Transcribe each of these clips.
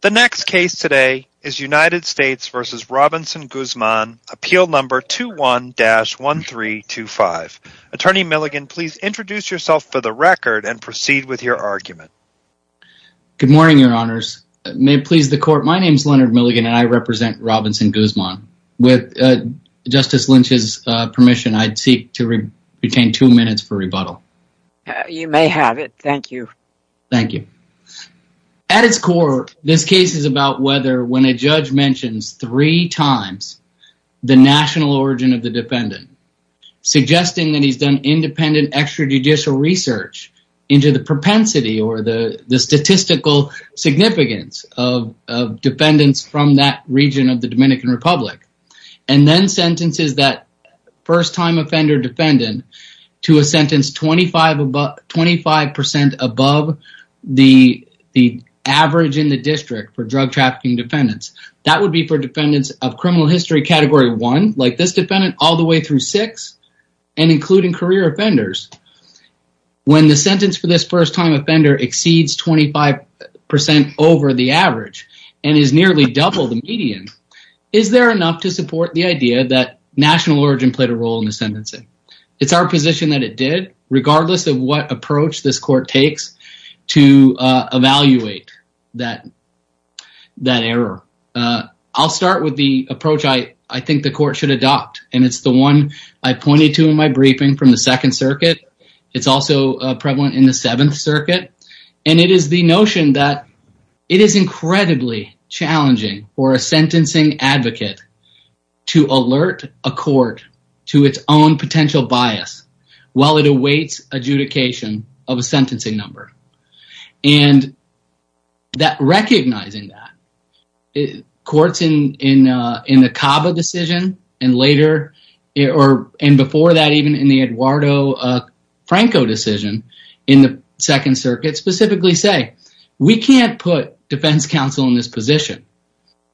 The next case today is United States v. Robinson Guzman, appeal number 21-1325. Attorney Milligan, please introduce yourself for the record and proceed with your argument. Good morning, your honors. May it please the court, my name is Leonard Milligan and I represent Robinson Guzman. With Justice Lynch's permission, I'd seek to retain two minutes for rebuttal. You may have it, thank you. Thank you. At its core, this case is about whether when a judge mentions three times the national origin of the defendant, suggesting that he's done independent extrajudicial research into the propensity or the statistical significance of defendants from that region of the Dominican Republic, and then sentences that first-time offender defendant to a sentence 25% above the average in the district for drug trafficking defendants. That would be for defendants of criminal history category one, like this defendant, all the way through six, and including career offenders. When the sentence for this first-time offender exceeds 25% over the average and is nearly double the median, is there enough to support the idea that national that it did, regardless of what approach this court takes to evaluate that error? I'll start with the approach I think the court should adopt, and it's the one I pointed to in my briefing from the Second Circuit. It's also prevalent in the Seventh Circuit, and it is the notion that it is incredibly challenging for a sentencing advocate to alert a court to its own bias while it awaits adjudication of a sentencing number. Recognizing that, courts in the CABA decision, and before that even in the Eduardo Franco decision in the Second Circuit, specifically say, we can't put defense counsel in this position.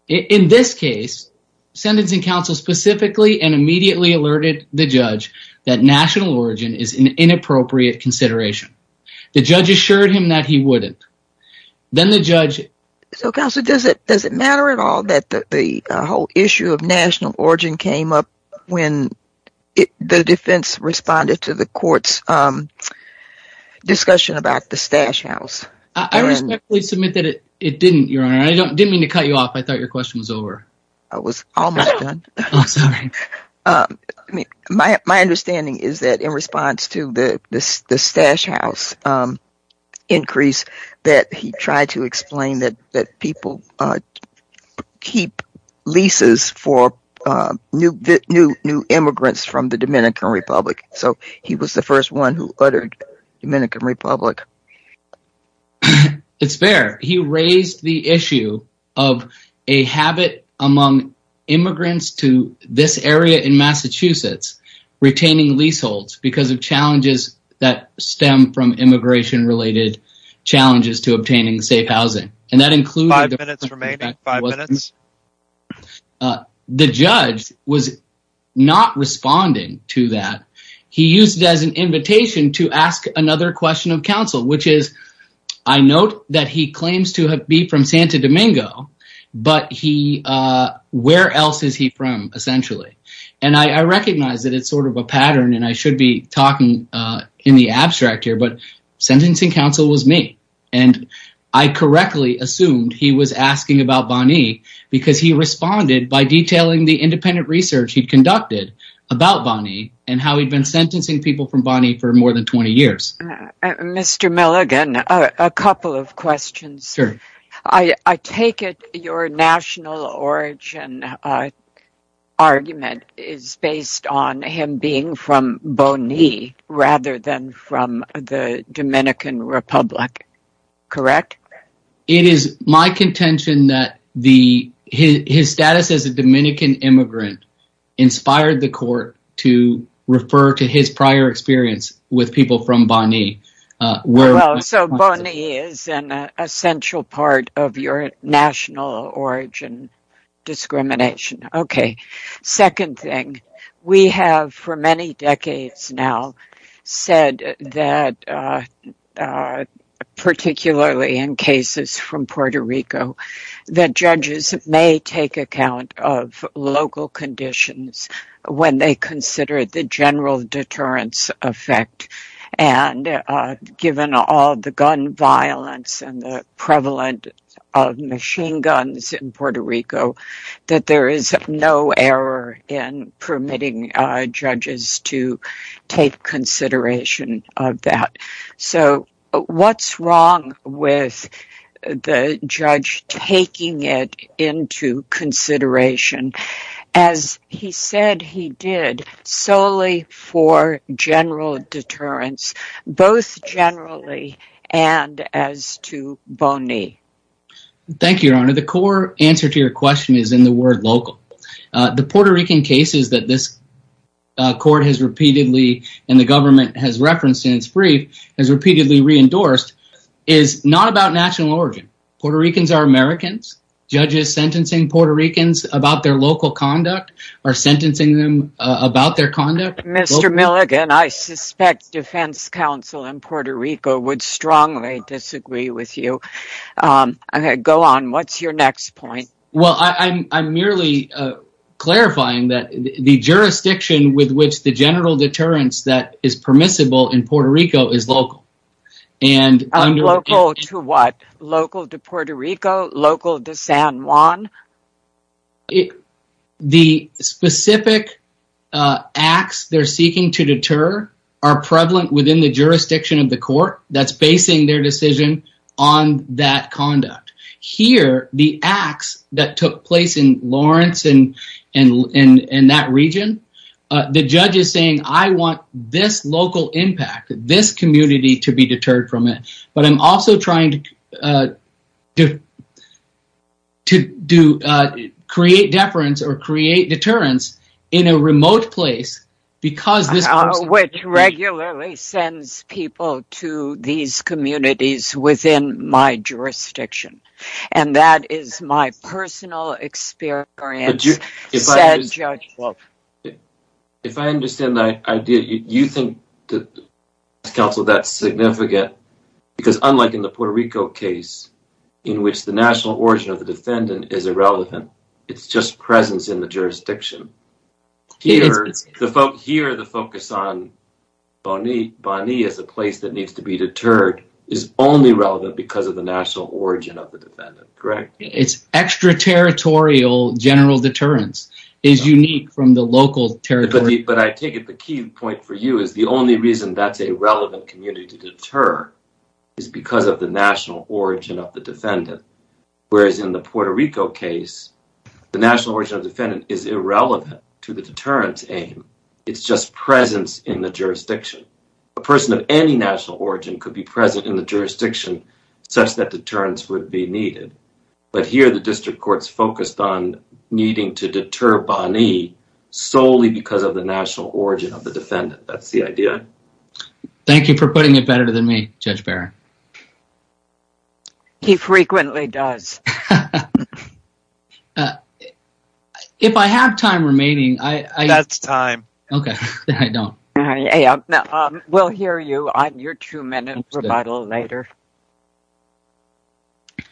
In this case, sentencing counsel specifically and that national origin is an inappropriate consideration. The judge assured him that he wouldn't. Then the judge... So, counsel, does it matter at all that the whole issue of national origin came up when the defense responded to the court's discussion about the stash house? I respectfully submit that it didn't, Your Honor. I didn't mean to cut you off. I thought is that in response to the stash house increase that he tried to explain that people keep leases for new immigrants from the Dominican Republic. So, he was the first one who uttered Dominican Republic. It's fair. He raised the issue of a habit among immigrants to this area in Massachusetts retaining leaseholds because of challenges that stem from immigration-related challenges to obtaining safe housing. And that includes... Five minutes remaining. Five minutes. The judge was not responding to that. He used it as an invitation to ask another question of counsel, which is, I note that he claims to have be from Santa Domingo, but where else is he from, essentially? And I recognize that it's sort of a pattern and I should be talking in the abstract here, but sentencing counsel was me. And I correctly assumed he was asking about Bonny because he responded by detailing the independent research he'd conducted about Bonny and how he'd been sentencing people from Bonny for more than 20 years. Mr. Milligan, a couple of questions. I take it your national origin argument is based on him being from Bonny rather than from the Dominican Republic, correct? It is my contention that his status as a Dominican immigrant inspired the court to refer to his prior experience with people from Bonny. Well, so Bonny is an essential part of your national origin discrimination. Okay. Second thing, we have for many decades now said that, particularly in cases from Puerto Rico, that judges may take account of local conditions when they consider the general deterrence effect. And given all the gun violence and the prevalence of machine guns in Puerto Rico, that there is no error in permitting judges to take consideration of that. So what's wrong with the judge taking it into consideration as he said he did solely for general deterrence, both generally and as to Bonny? Thank you, Your Honor. The core answer to your question is in the word local. The Puerto Rican cases that this court has repeatedly, and the government has referenced in its brief, has repeatedly re-endorsed is not about national origin. Puerto Ricans are Americans. Judges sentencing Puerto Ricans about their local conduct or sentencing them about their conduct. Mr. Milligan, I suspect defense counsel in Puerto Rico would strongly disagree with you. Go on, what's your next point? Well, I'm merely clarifying that the jurisdiction with which the general deterrence that is permissible in Puerto Rico is local. And local to what? Local to Puerto Rico? Local to San Juan? The specific acts they're seeking to deter are prevalent within the jurisdiction of the court that's basing their decision on that conduct. Here, the acts that took place in Lawrence and that region, the judge is saying, I want this local impact, this community to be deterred from it. But I'm also trying to create deference or create deterrence in a remote place because this... Which regularly sends people to these communities within my jurisdiction. And that is my personal experience, said judge. If I understand the idea, you think that counsel, that's significant because unlike in the Puerto Rico case, in which the national origin of the defendant is irrelevant, it's just presence in the jurisdiction. Here, the focus on Boni as a place that needs to be deterred is only relevant because of the national origin of the defendant, correct? It's extraterritorial general deterrence is unique from the local territory. But I take it the key point for you is the only reason that's a relevant community to deter is because of the national origin of the defendant. Whereas in the Puerto Rico case, the national origin of defendant is irrelevant to the deterrence aim. It's just presence in the jurisdiction. A person of any national origin could be present in the jurisdiction such that deterrence would be needed. But here, the district court's focused on needing to deter Boni solely because of the national origin of the defendant. That's the idea. Thank you for putting it better than me, Judge Barron. He frequently does. If I have time remaining, I... That's time. Okay. I don't. We'll hear you on your two-minute rebuttal later.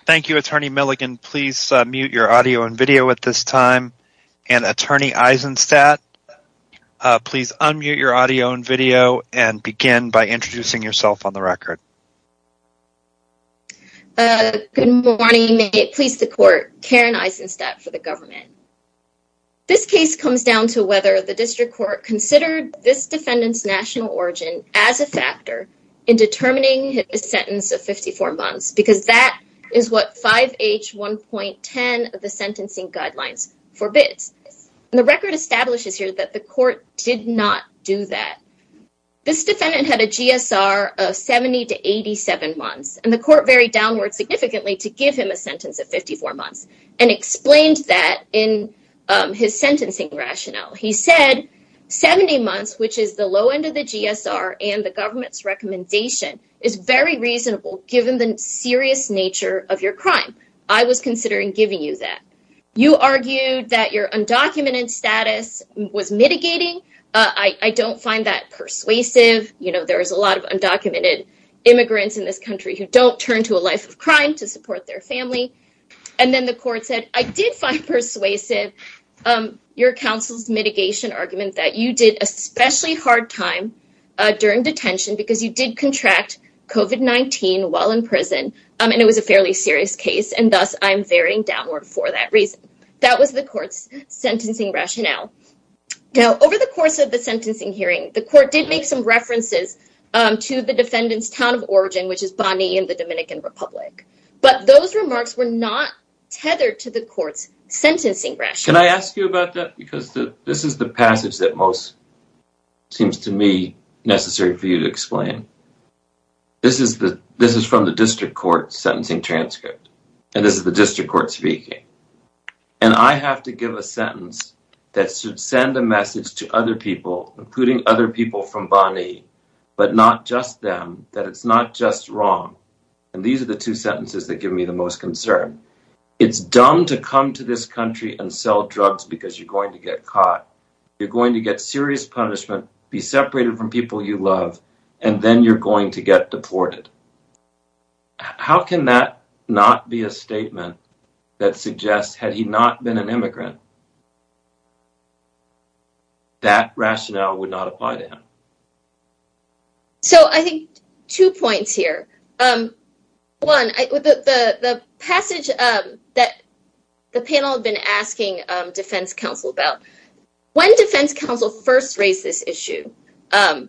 Thank you, Attorney Milligan. Please mute your audio and video at this time. And Attorney Eisenstadt, please unmute your audio and video and begin by introducing yourself on the record. Good morning. May it please the court, Karen Eisenstadt for the government. This case comes down to whether the district court considered this defendant's national origin as a factor in determining his sentence of 54 months because that is what 5H1.10 of the sentencing guidelines forbids. And the record establishes here that the court did not do that. This defendant had a GSR of 70 to 87 months, and the court varied downward significantly to give him a sentence of his sentencing rationale. He said 70 months, which is the low end of the GSR and the government's recommendation, is very reasonable given the serious nature of your crime. I was considering giving you that. You argued that your undocumented status was mitigating. I don't find that persuasive. You know, there's a lot of undocumented immigrants in this country who don't turn to a persuasive your counsel's mitigation argument that you did especially hard time during detention because you did contract COVID-19 while in prison, and it was a fairly serious case, and thus I'm varying downward for that reason. That was the court's sentencing rationale. Now, over the course of the sentencing hearing, the court did make some references to the defendant's town of origin, which is Bonny in the Dominican Republic, but those remarks were not tethered to the court's sentencing rationale. Can I ask you about that? Because this is the passage that most seems to me necessary for you to explain. This is from the district court's sentencing transcript, and this is the district court speaking, and I have to give a sentence that should send a message to other people, including other people from Bonny, but not just them, that it's not just wrong, and these are the two sentences that give me the most concern. It's dumb to come to this country and sell drugs because you're going to get caught. You're going to get serious punishment, be separated from people you love, and then you're going to get deported. How can that not be a reason? That rationale would not apply to him. So, I think two points here. One, the passage that the panel had been asking defense counsel about, when defense counsel first raised this issue and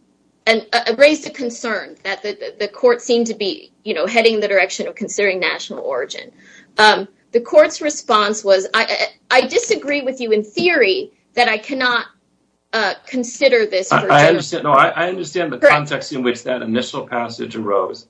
raised a concern that the court seemed to be heading in the direction of considering national origin, the court's response was, I disagree with you in theory that I cannot consider this. I understand the context in which that initial passage arose,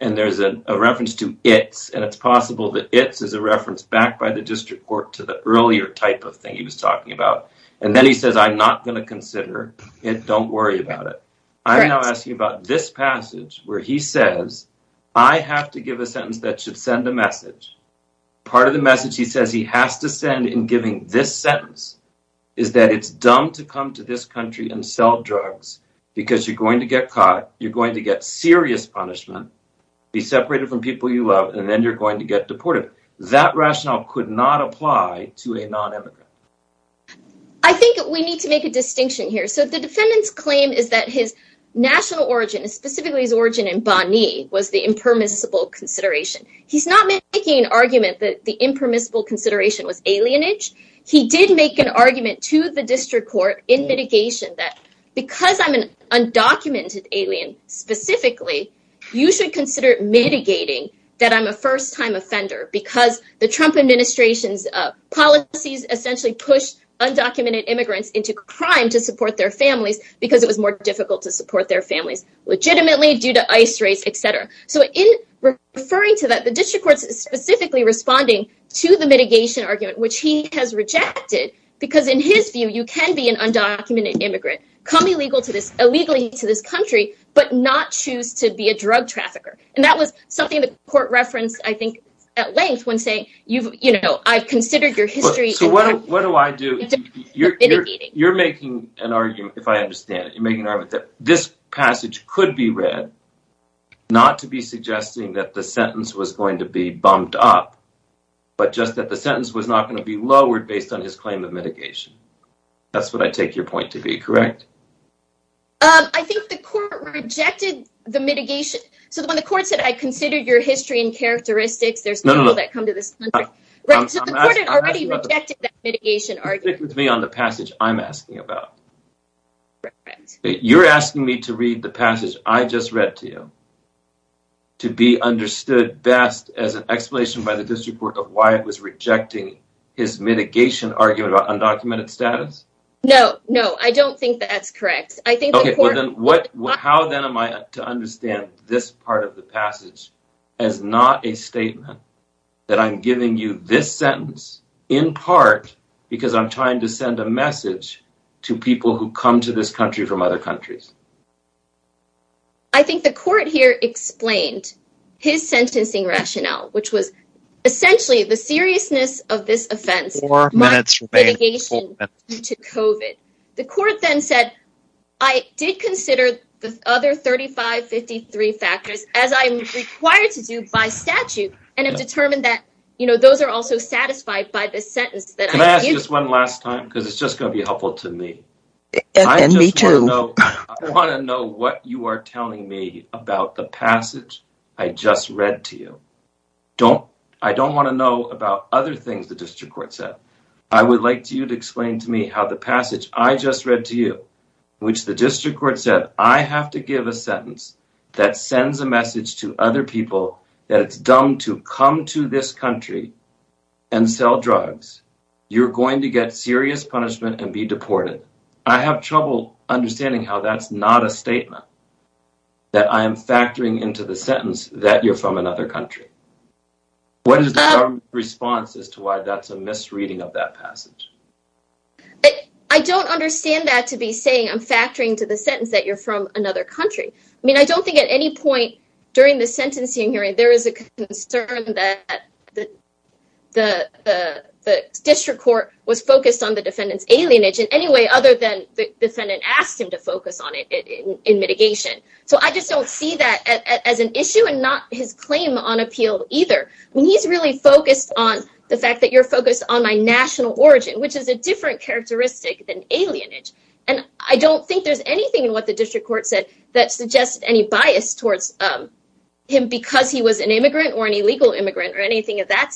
and there's a reference to it's, and it's possible that it's is a reference backed by the district court to the earlier type of thing he was talking about, and then he says, I'm not going to consider it. Don't worry about it. I'm now asking about this passage where he says, I have to give a sentence that should send a message. Part of the message he says he has to send in giving this sentence is that it's dumb to come to this country and sell drugs because you're going to get caught, you're going to get serious punishment, be separated from people you love, and then you're going to get deported. That rationale could not apply to a non-immigrant. I think we need to make a distinction here. So, the defendant's claim is that his national origin, specifically his origin in Bani, was the impermissible consideration. He's not making an argument that the impermissible consideration was alienage. He did make an argument to the district court in mitigation that because I'm an undocumented alien specifically, you should consider mitigating that I'm a first-time offender because the Trump administration's policies essentially pushed undocumented immigrants into crime to support their families because it was more difficult to support their families legitimately due to ICE raids, etc. So, in referring to that, the district court is specifically responding to the mitigation argument, which he has rejected because in his view, you can be an undocumented immigrant, come illegally to this country, but not choose to be a drug trafficker. And that was something the court referenced, I think, at length when saying, you know, I've considered your history. So, what do I do? You're making an argument, if I understand it, you're making an argument that this passage could be read, not to be suggesting that the sentence was going to be bumped up, but just that the sentence was not going to be lowered based on his claim of mitigation. That's what I take your point to be, correct? I think the court rejected the mitigation. So, when the court said, I considered your history and characteristics, there's people that come to this country. The court had already rejected that mitigation argument. Stick with me on the passage I'm asking about. You're asking me to read the passage I just read to you, to be understood best as an explanation by the district court of why it was rejecting his mitigation argument about undocumented status? No, no, I don't think that's correct. I think the court... Okay, how then am I to understand this part of the passage as not a statement that I'm giving you this sentence, in part, because I'm trying to send a message to people who come to this country from other countries? I think the court here explained his sentencing rationale, which was essentially the seriousness of this offense. The court then said, I did consider the other 3553 factors as I'm required to do by statute and have determined that those are also satisfied by this sentence that I... Can I ask you this one last time? Because it's just going to be helpful to me. And me too. I want to know what you are telling me about the passage I just read to you. I don't want to know about other things the district court said. I would like you to explain to me how the passage I just read to you, which the district court said, I have to give a sentence that sends a message to other people that it's dumb to come to this country and sell drugs. You're going to get serious punishment and be deported. I have trouble understanding how that's not a statement that I am factoring into the sentence that you're from another country. What is the government's response as to why that's a misreading of that passage? I don't understand that to be saying I'm factoring to the sentence that you're from another country. I mean, I don't think at any point during the sentencing hearing, there is a concern that the district court was focused on the defendant's alienage in any way other than the defendant asked him to focus on it in mitigation. So I just don't see that as an issue and not his claim on appeal either. I mean, he's really focused on the fact that you're focused on my national origin, which is a different characteristic than alienage. I don't think there's anything in what the district court said that suggests any bias towards him because he was an immigrant or an illegal immigrant or anything of that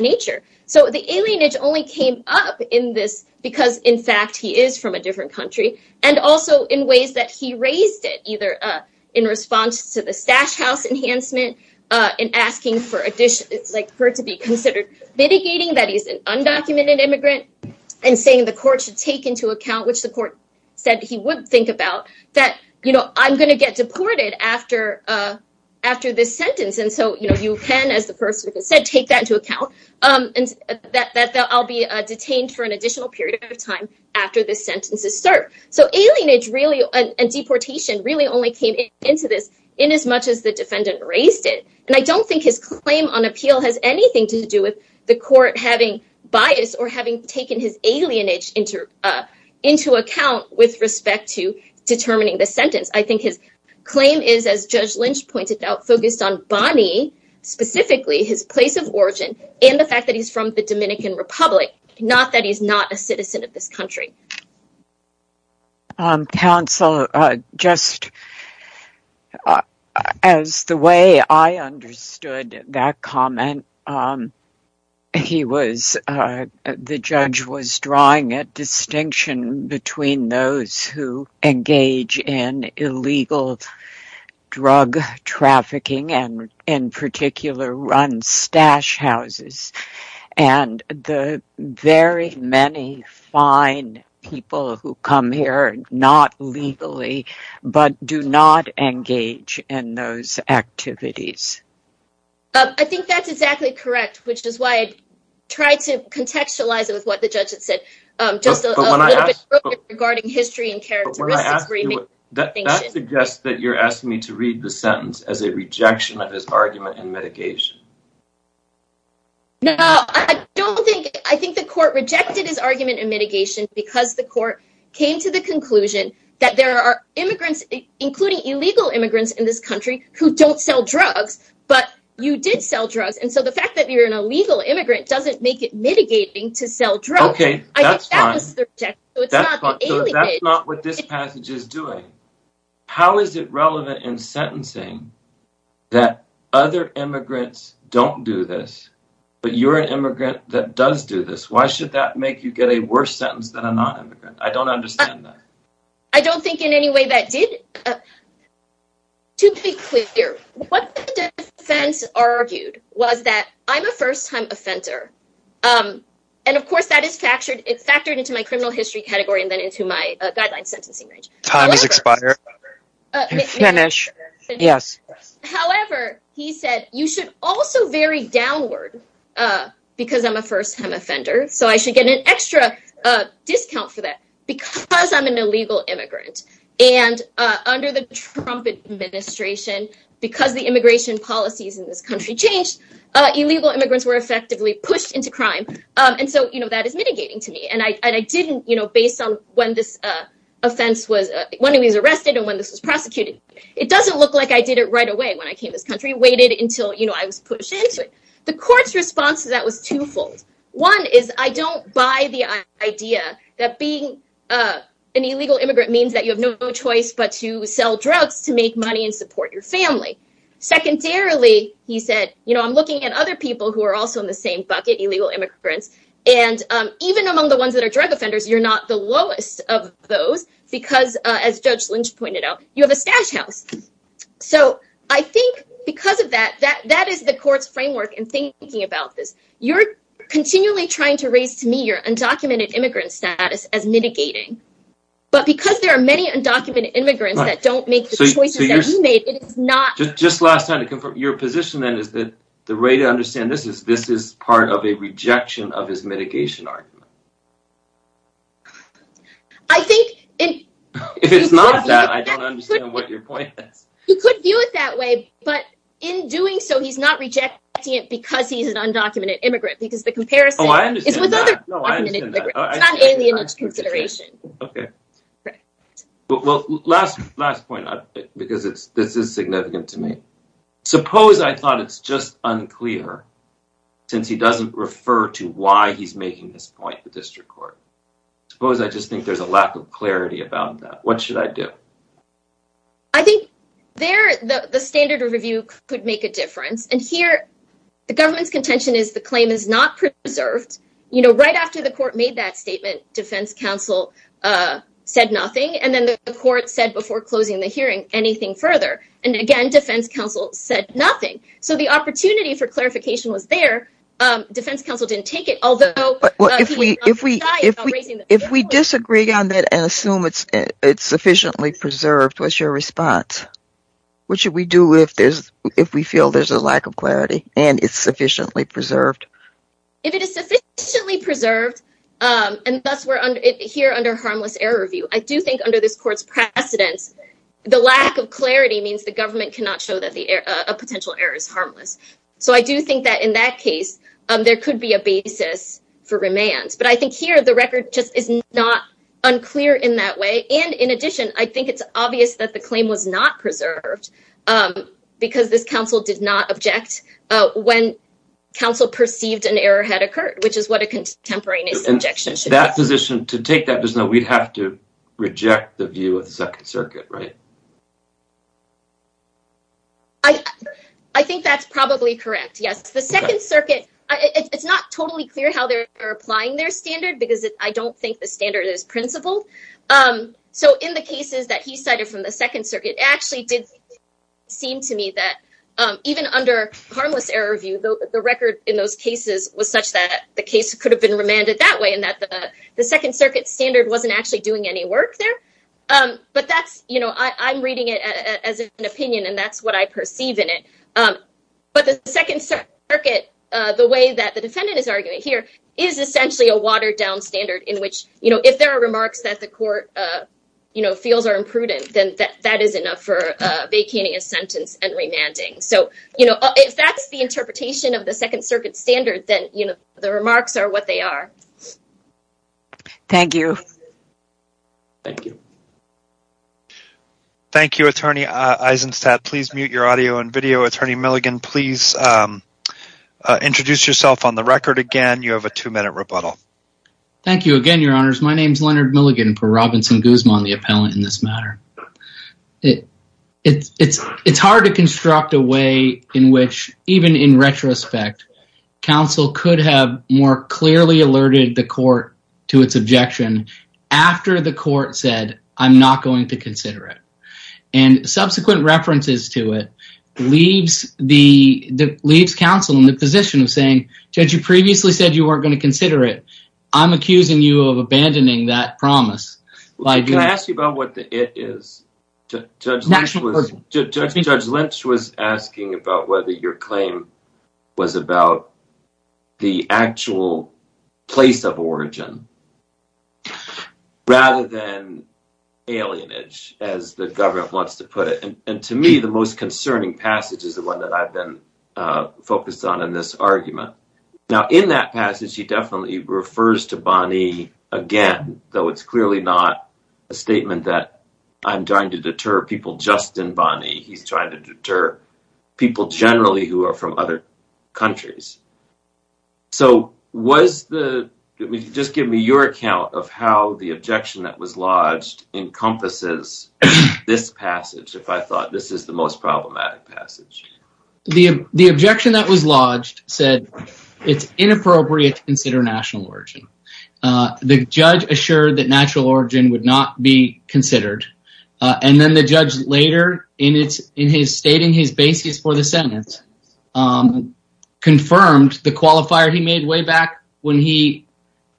nature. So the alienage only came up in this because, in fact, he is from a different country and also in ways that he raised it, either in response to the stash house enhancement and asking for her to be considered mitigating that he's an undocumented immigrant and saying the court should take into account, which the court said he would think about that, you know, I'm going to get deported after this sentence. And so, you know, you can, as the person said, take that into account and that I'll be detained for an additional period of time after this sentence is served. So alienage really and deportation really only came into this in as much as the defendant raised it. And I don't think his claim on appeal has anything to do with the court having bias or having taken his alienage into into account with respect to determining the sentence. I think his claim is, as Judge Lynch pointed out, focused on Bonnie, specifically his place of origin and the fact that he's from the Dominican Republic, not that he's not a citizen of this the judge was drawing a distinction between those who engage in illegal drug trafficking and in particular run stash houses and the very many fine people who come here, not legally, but do not engage in those activities. I think that's exactly correct, which is why I to contextualize it with what the judge had said just a little bit regarding history and characteristics. That suggests that you're asking me to read the sentence as a rejection of his argument in mitigation. No, I don't think I think the court rejected his argument in mitigation because the court came to the conclusion that there are immigrants, including illegal immigrants in this country who don't sell drugs, but you did sell drugs. And so the fact that you're an mitigating to sell drugs. Okay, that's fine. That's not what this passage is doing. How is it relevant in sentencing that other immigrants don't do this, but you're an immigrant that does do this? Why should that make you get a worse sentence than a non-immigrant? I don't understand that. I don't think in any way that did. To be clear, what the defense argued was that I'm a first time offender. And of course that is factored into my criminal history category and then into my guideline sentencing range. However, he said, you should also vary downward because I'm a first time offender. So I should get an extra discount for that because I'm an illegal immigrant and under the Trump administration, because the immigration policies in this country changed, illegal immigrants were effectively pushed into crime. And so that is mitigating to me. And I didn't, based on when this offense was, when he was arrested and when this was prosecuted, it doesn't look like I did it right away when I came to this country, waited until I was pushed into it. The court's response to that was twofold. One is I don't buy the idea that being an illegal immigrant means that you have no choice but to say, I'm looking at other people who are also in the same bucket, illegal immigrants. And even among the ones that are drug offenders, you're not the lowest of those because as Judge Lynch pointed out, you have a stash house. So I think because of that, that is the court's framework in thinking about this. You're continually trying to raise to me your undocumented immigrant status as mitigating. But because there are many undocumented immigrants that don't make the your position then is that the way to understand this is this is part of a rejection of his mitigation argument. I think if it's not that, I don't understand what your point is. You could view it that way, but in doing so, he's not rejecting it because he's an undocumented immigrant, because the comparison is with other undocumented immigrants. It's not alien to suppose I thought it's just unclear since he doesn't refer to why he's making this point, the district court. Suppose I just think there's a lack of clarity about that. What should I do? I think there, the standard review could make a difference. And here, the government's contention is the claim is not preserved. You know, right after the court made that statement, defense counsel said nothing. And then the court said before closing the hearing anything further. And again, defense counsel said nothing. So the opportunity for clarification was there. Defense counsel didn't take it, although if we disagree on that and assume it's sufficiently preserved, what's your response? What should we do if there's if we feel there's a lack of clarity and it's sufficiently preserved? If it is sufficiently preserved, and that's where here under harmless error review, I do think under this court's precedence, the lack of clarity means the government cannot show that a potential error is harmless. So I do think that in that case, there could be a basis for remand. But I think here the record just is not unclear in that way. And in addition, I think it's obvious that the claim was not preserved because this counsel did not object when counsel perceived an error had occurred, which is what a contemporaneous objection should be. To take that position, we'd have to reject the view of the Second Circuit, right? I think that's probably correct. Yes. The Second Circuit, it's not totally clear how they're applying their standard because I don't think the standard is principled. So in the cases that he cited from the Second Circuit, it actually did seem to me that even under harmless error view, the record in those cases was such that the case could have been remanded that way and that the Second Circuit standard wasn't actually doing any work there. But I'm reading it as an opinion and that's what I perceive in it. But the Second Circuit, the way that the defendant is arguing here is essentially a watered down standard in which if there are remarks that the court feels are imprudent, then that is enough for vacating a sentence and remanding. So if that's the interpretation of the Second Circuit standard, then the remarks are what they are. Thank you. Thank you. Thank you, Attorney Eisenstadt. Please mute your audio and video. Attorney Milligan, please introduce yourself on the record again. You have a two minute rebuttal. Thank you again, Your Honors. My name is Leonard Milligan for Robinson Guzman, the appellant in this matter. It's hard to construct a way in which even in retrospect, counsel could have more clearly alerted the court to its objection after the court said, I'm not going to consider it. And subsequent references to it leaves counsel in the position of saying, Judge, you previously said you weren't going to consider it. I'm accusing you of what the it is. Judge Lynch was asking about whether your claim was about the actual place of origin rather than alienage, as the government wants to put it. And to me, the most concerning passage is the one that I've been focused on in this argument. Now, in that passage, he definitely refers to Bani again, though it's clearly not a statement that I'm trying to deter people just in Bani. He's trying to deter people generally who are from other countries. So, just give me your account of how the objection that was lodged encompasses this passage, if I thought this is the most problematic passage. The objection that was lodged said, it's inappropriate to consider national origin. The judge assured that natural origin would not be considered. And then the judge later, in his stating his basis for the sentence, confirmed the qualifier he made way back when he,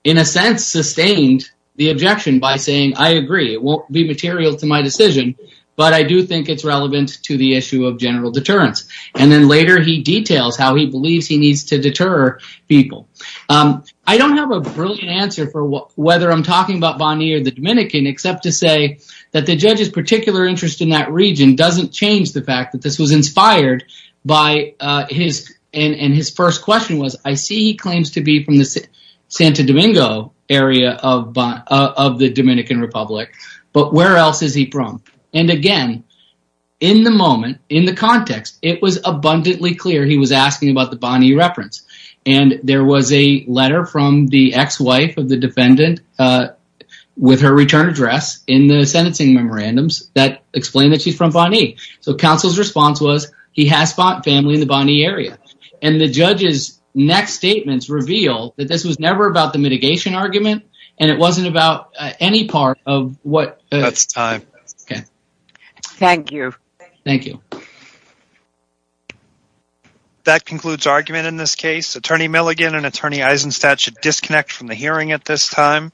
in a sense, sustained the objection by saying, I agree, it won't be material to my decision, but I do think it's relevant to the issue of people. I don't have a brilliant answer for whether I'm talking about Bani or the Dominican, except to say that the judge's particular interest in that region doesn't change the fact that this was inspired by his, and his first question was, I see he claims to be from the Santo Domingo area of the Dominican Republic, but where else is he from? And again, in the moment, in the context, it was abundantly clear he was asking about the Bani reference. And there was a letter from the ex-wife of the defendant with her return address in the sentencing memorandums that explained that she's from Bani. So, counsel's response was, he has family in the Bani area. And the judge's next statements reveal that this was never about the mitigation argument, and it wasn't about any part of what. That's time. Okay. Thank you. Thank you. That concludes argument in this case. Attorney Milligan and Attorney Eisenstat should disconnect from the hearing at this time.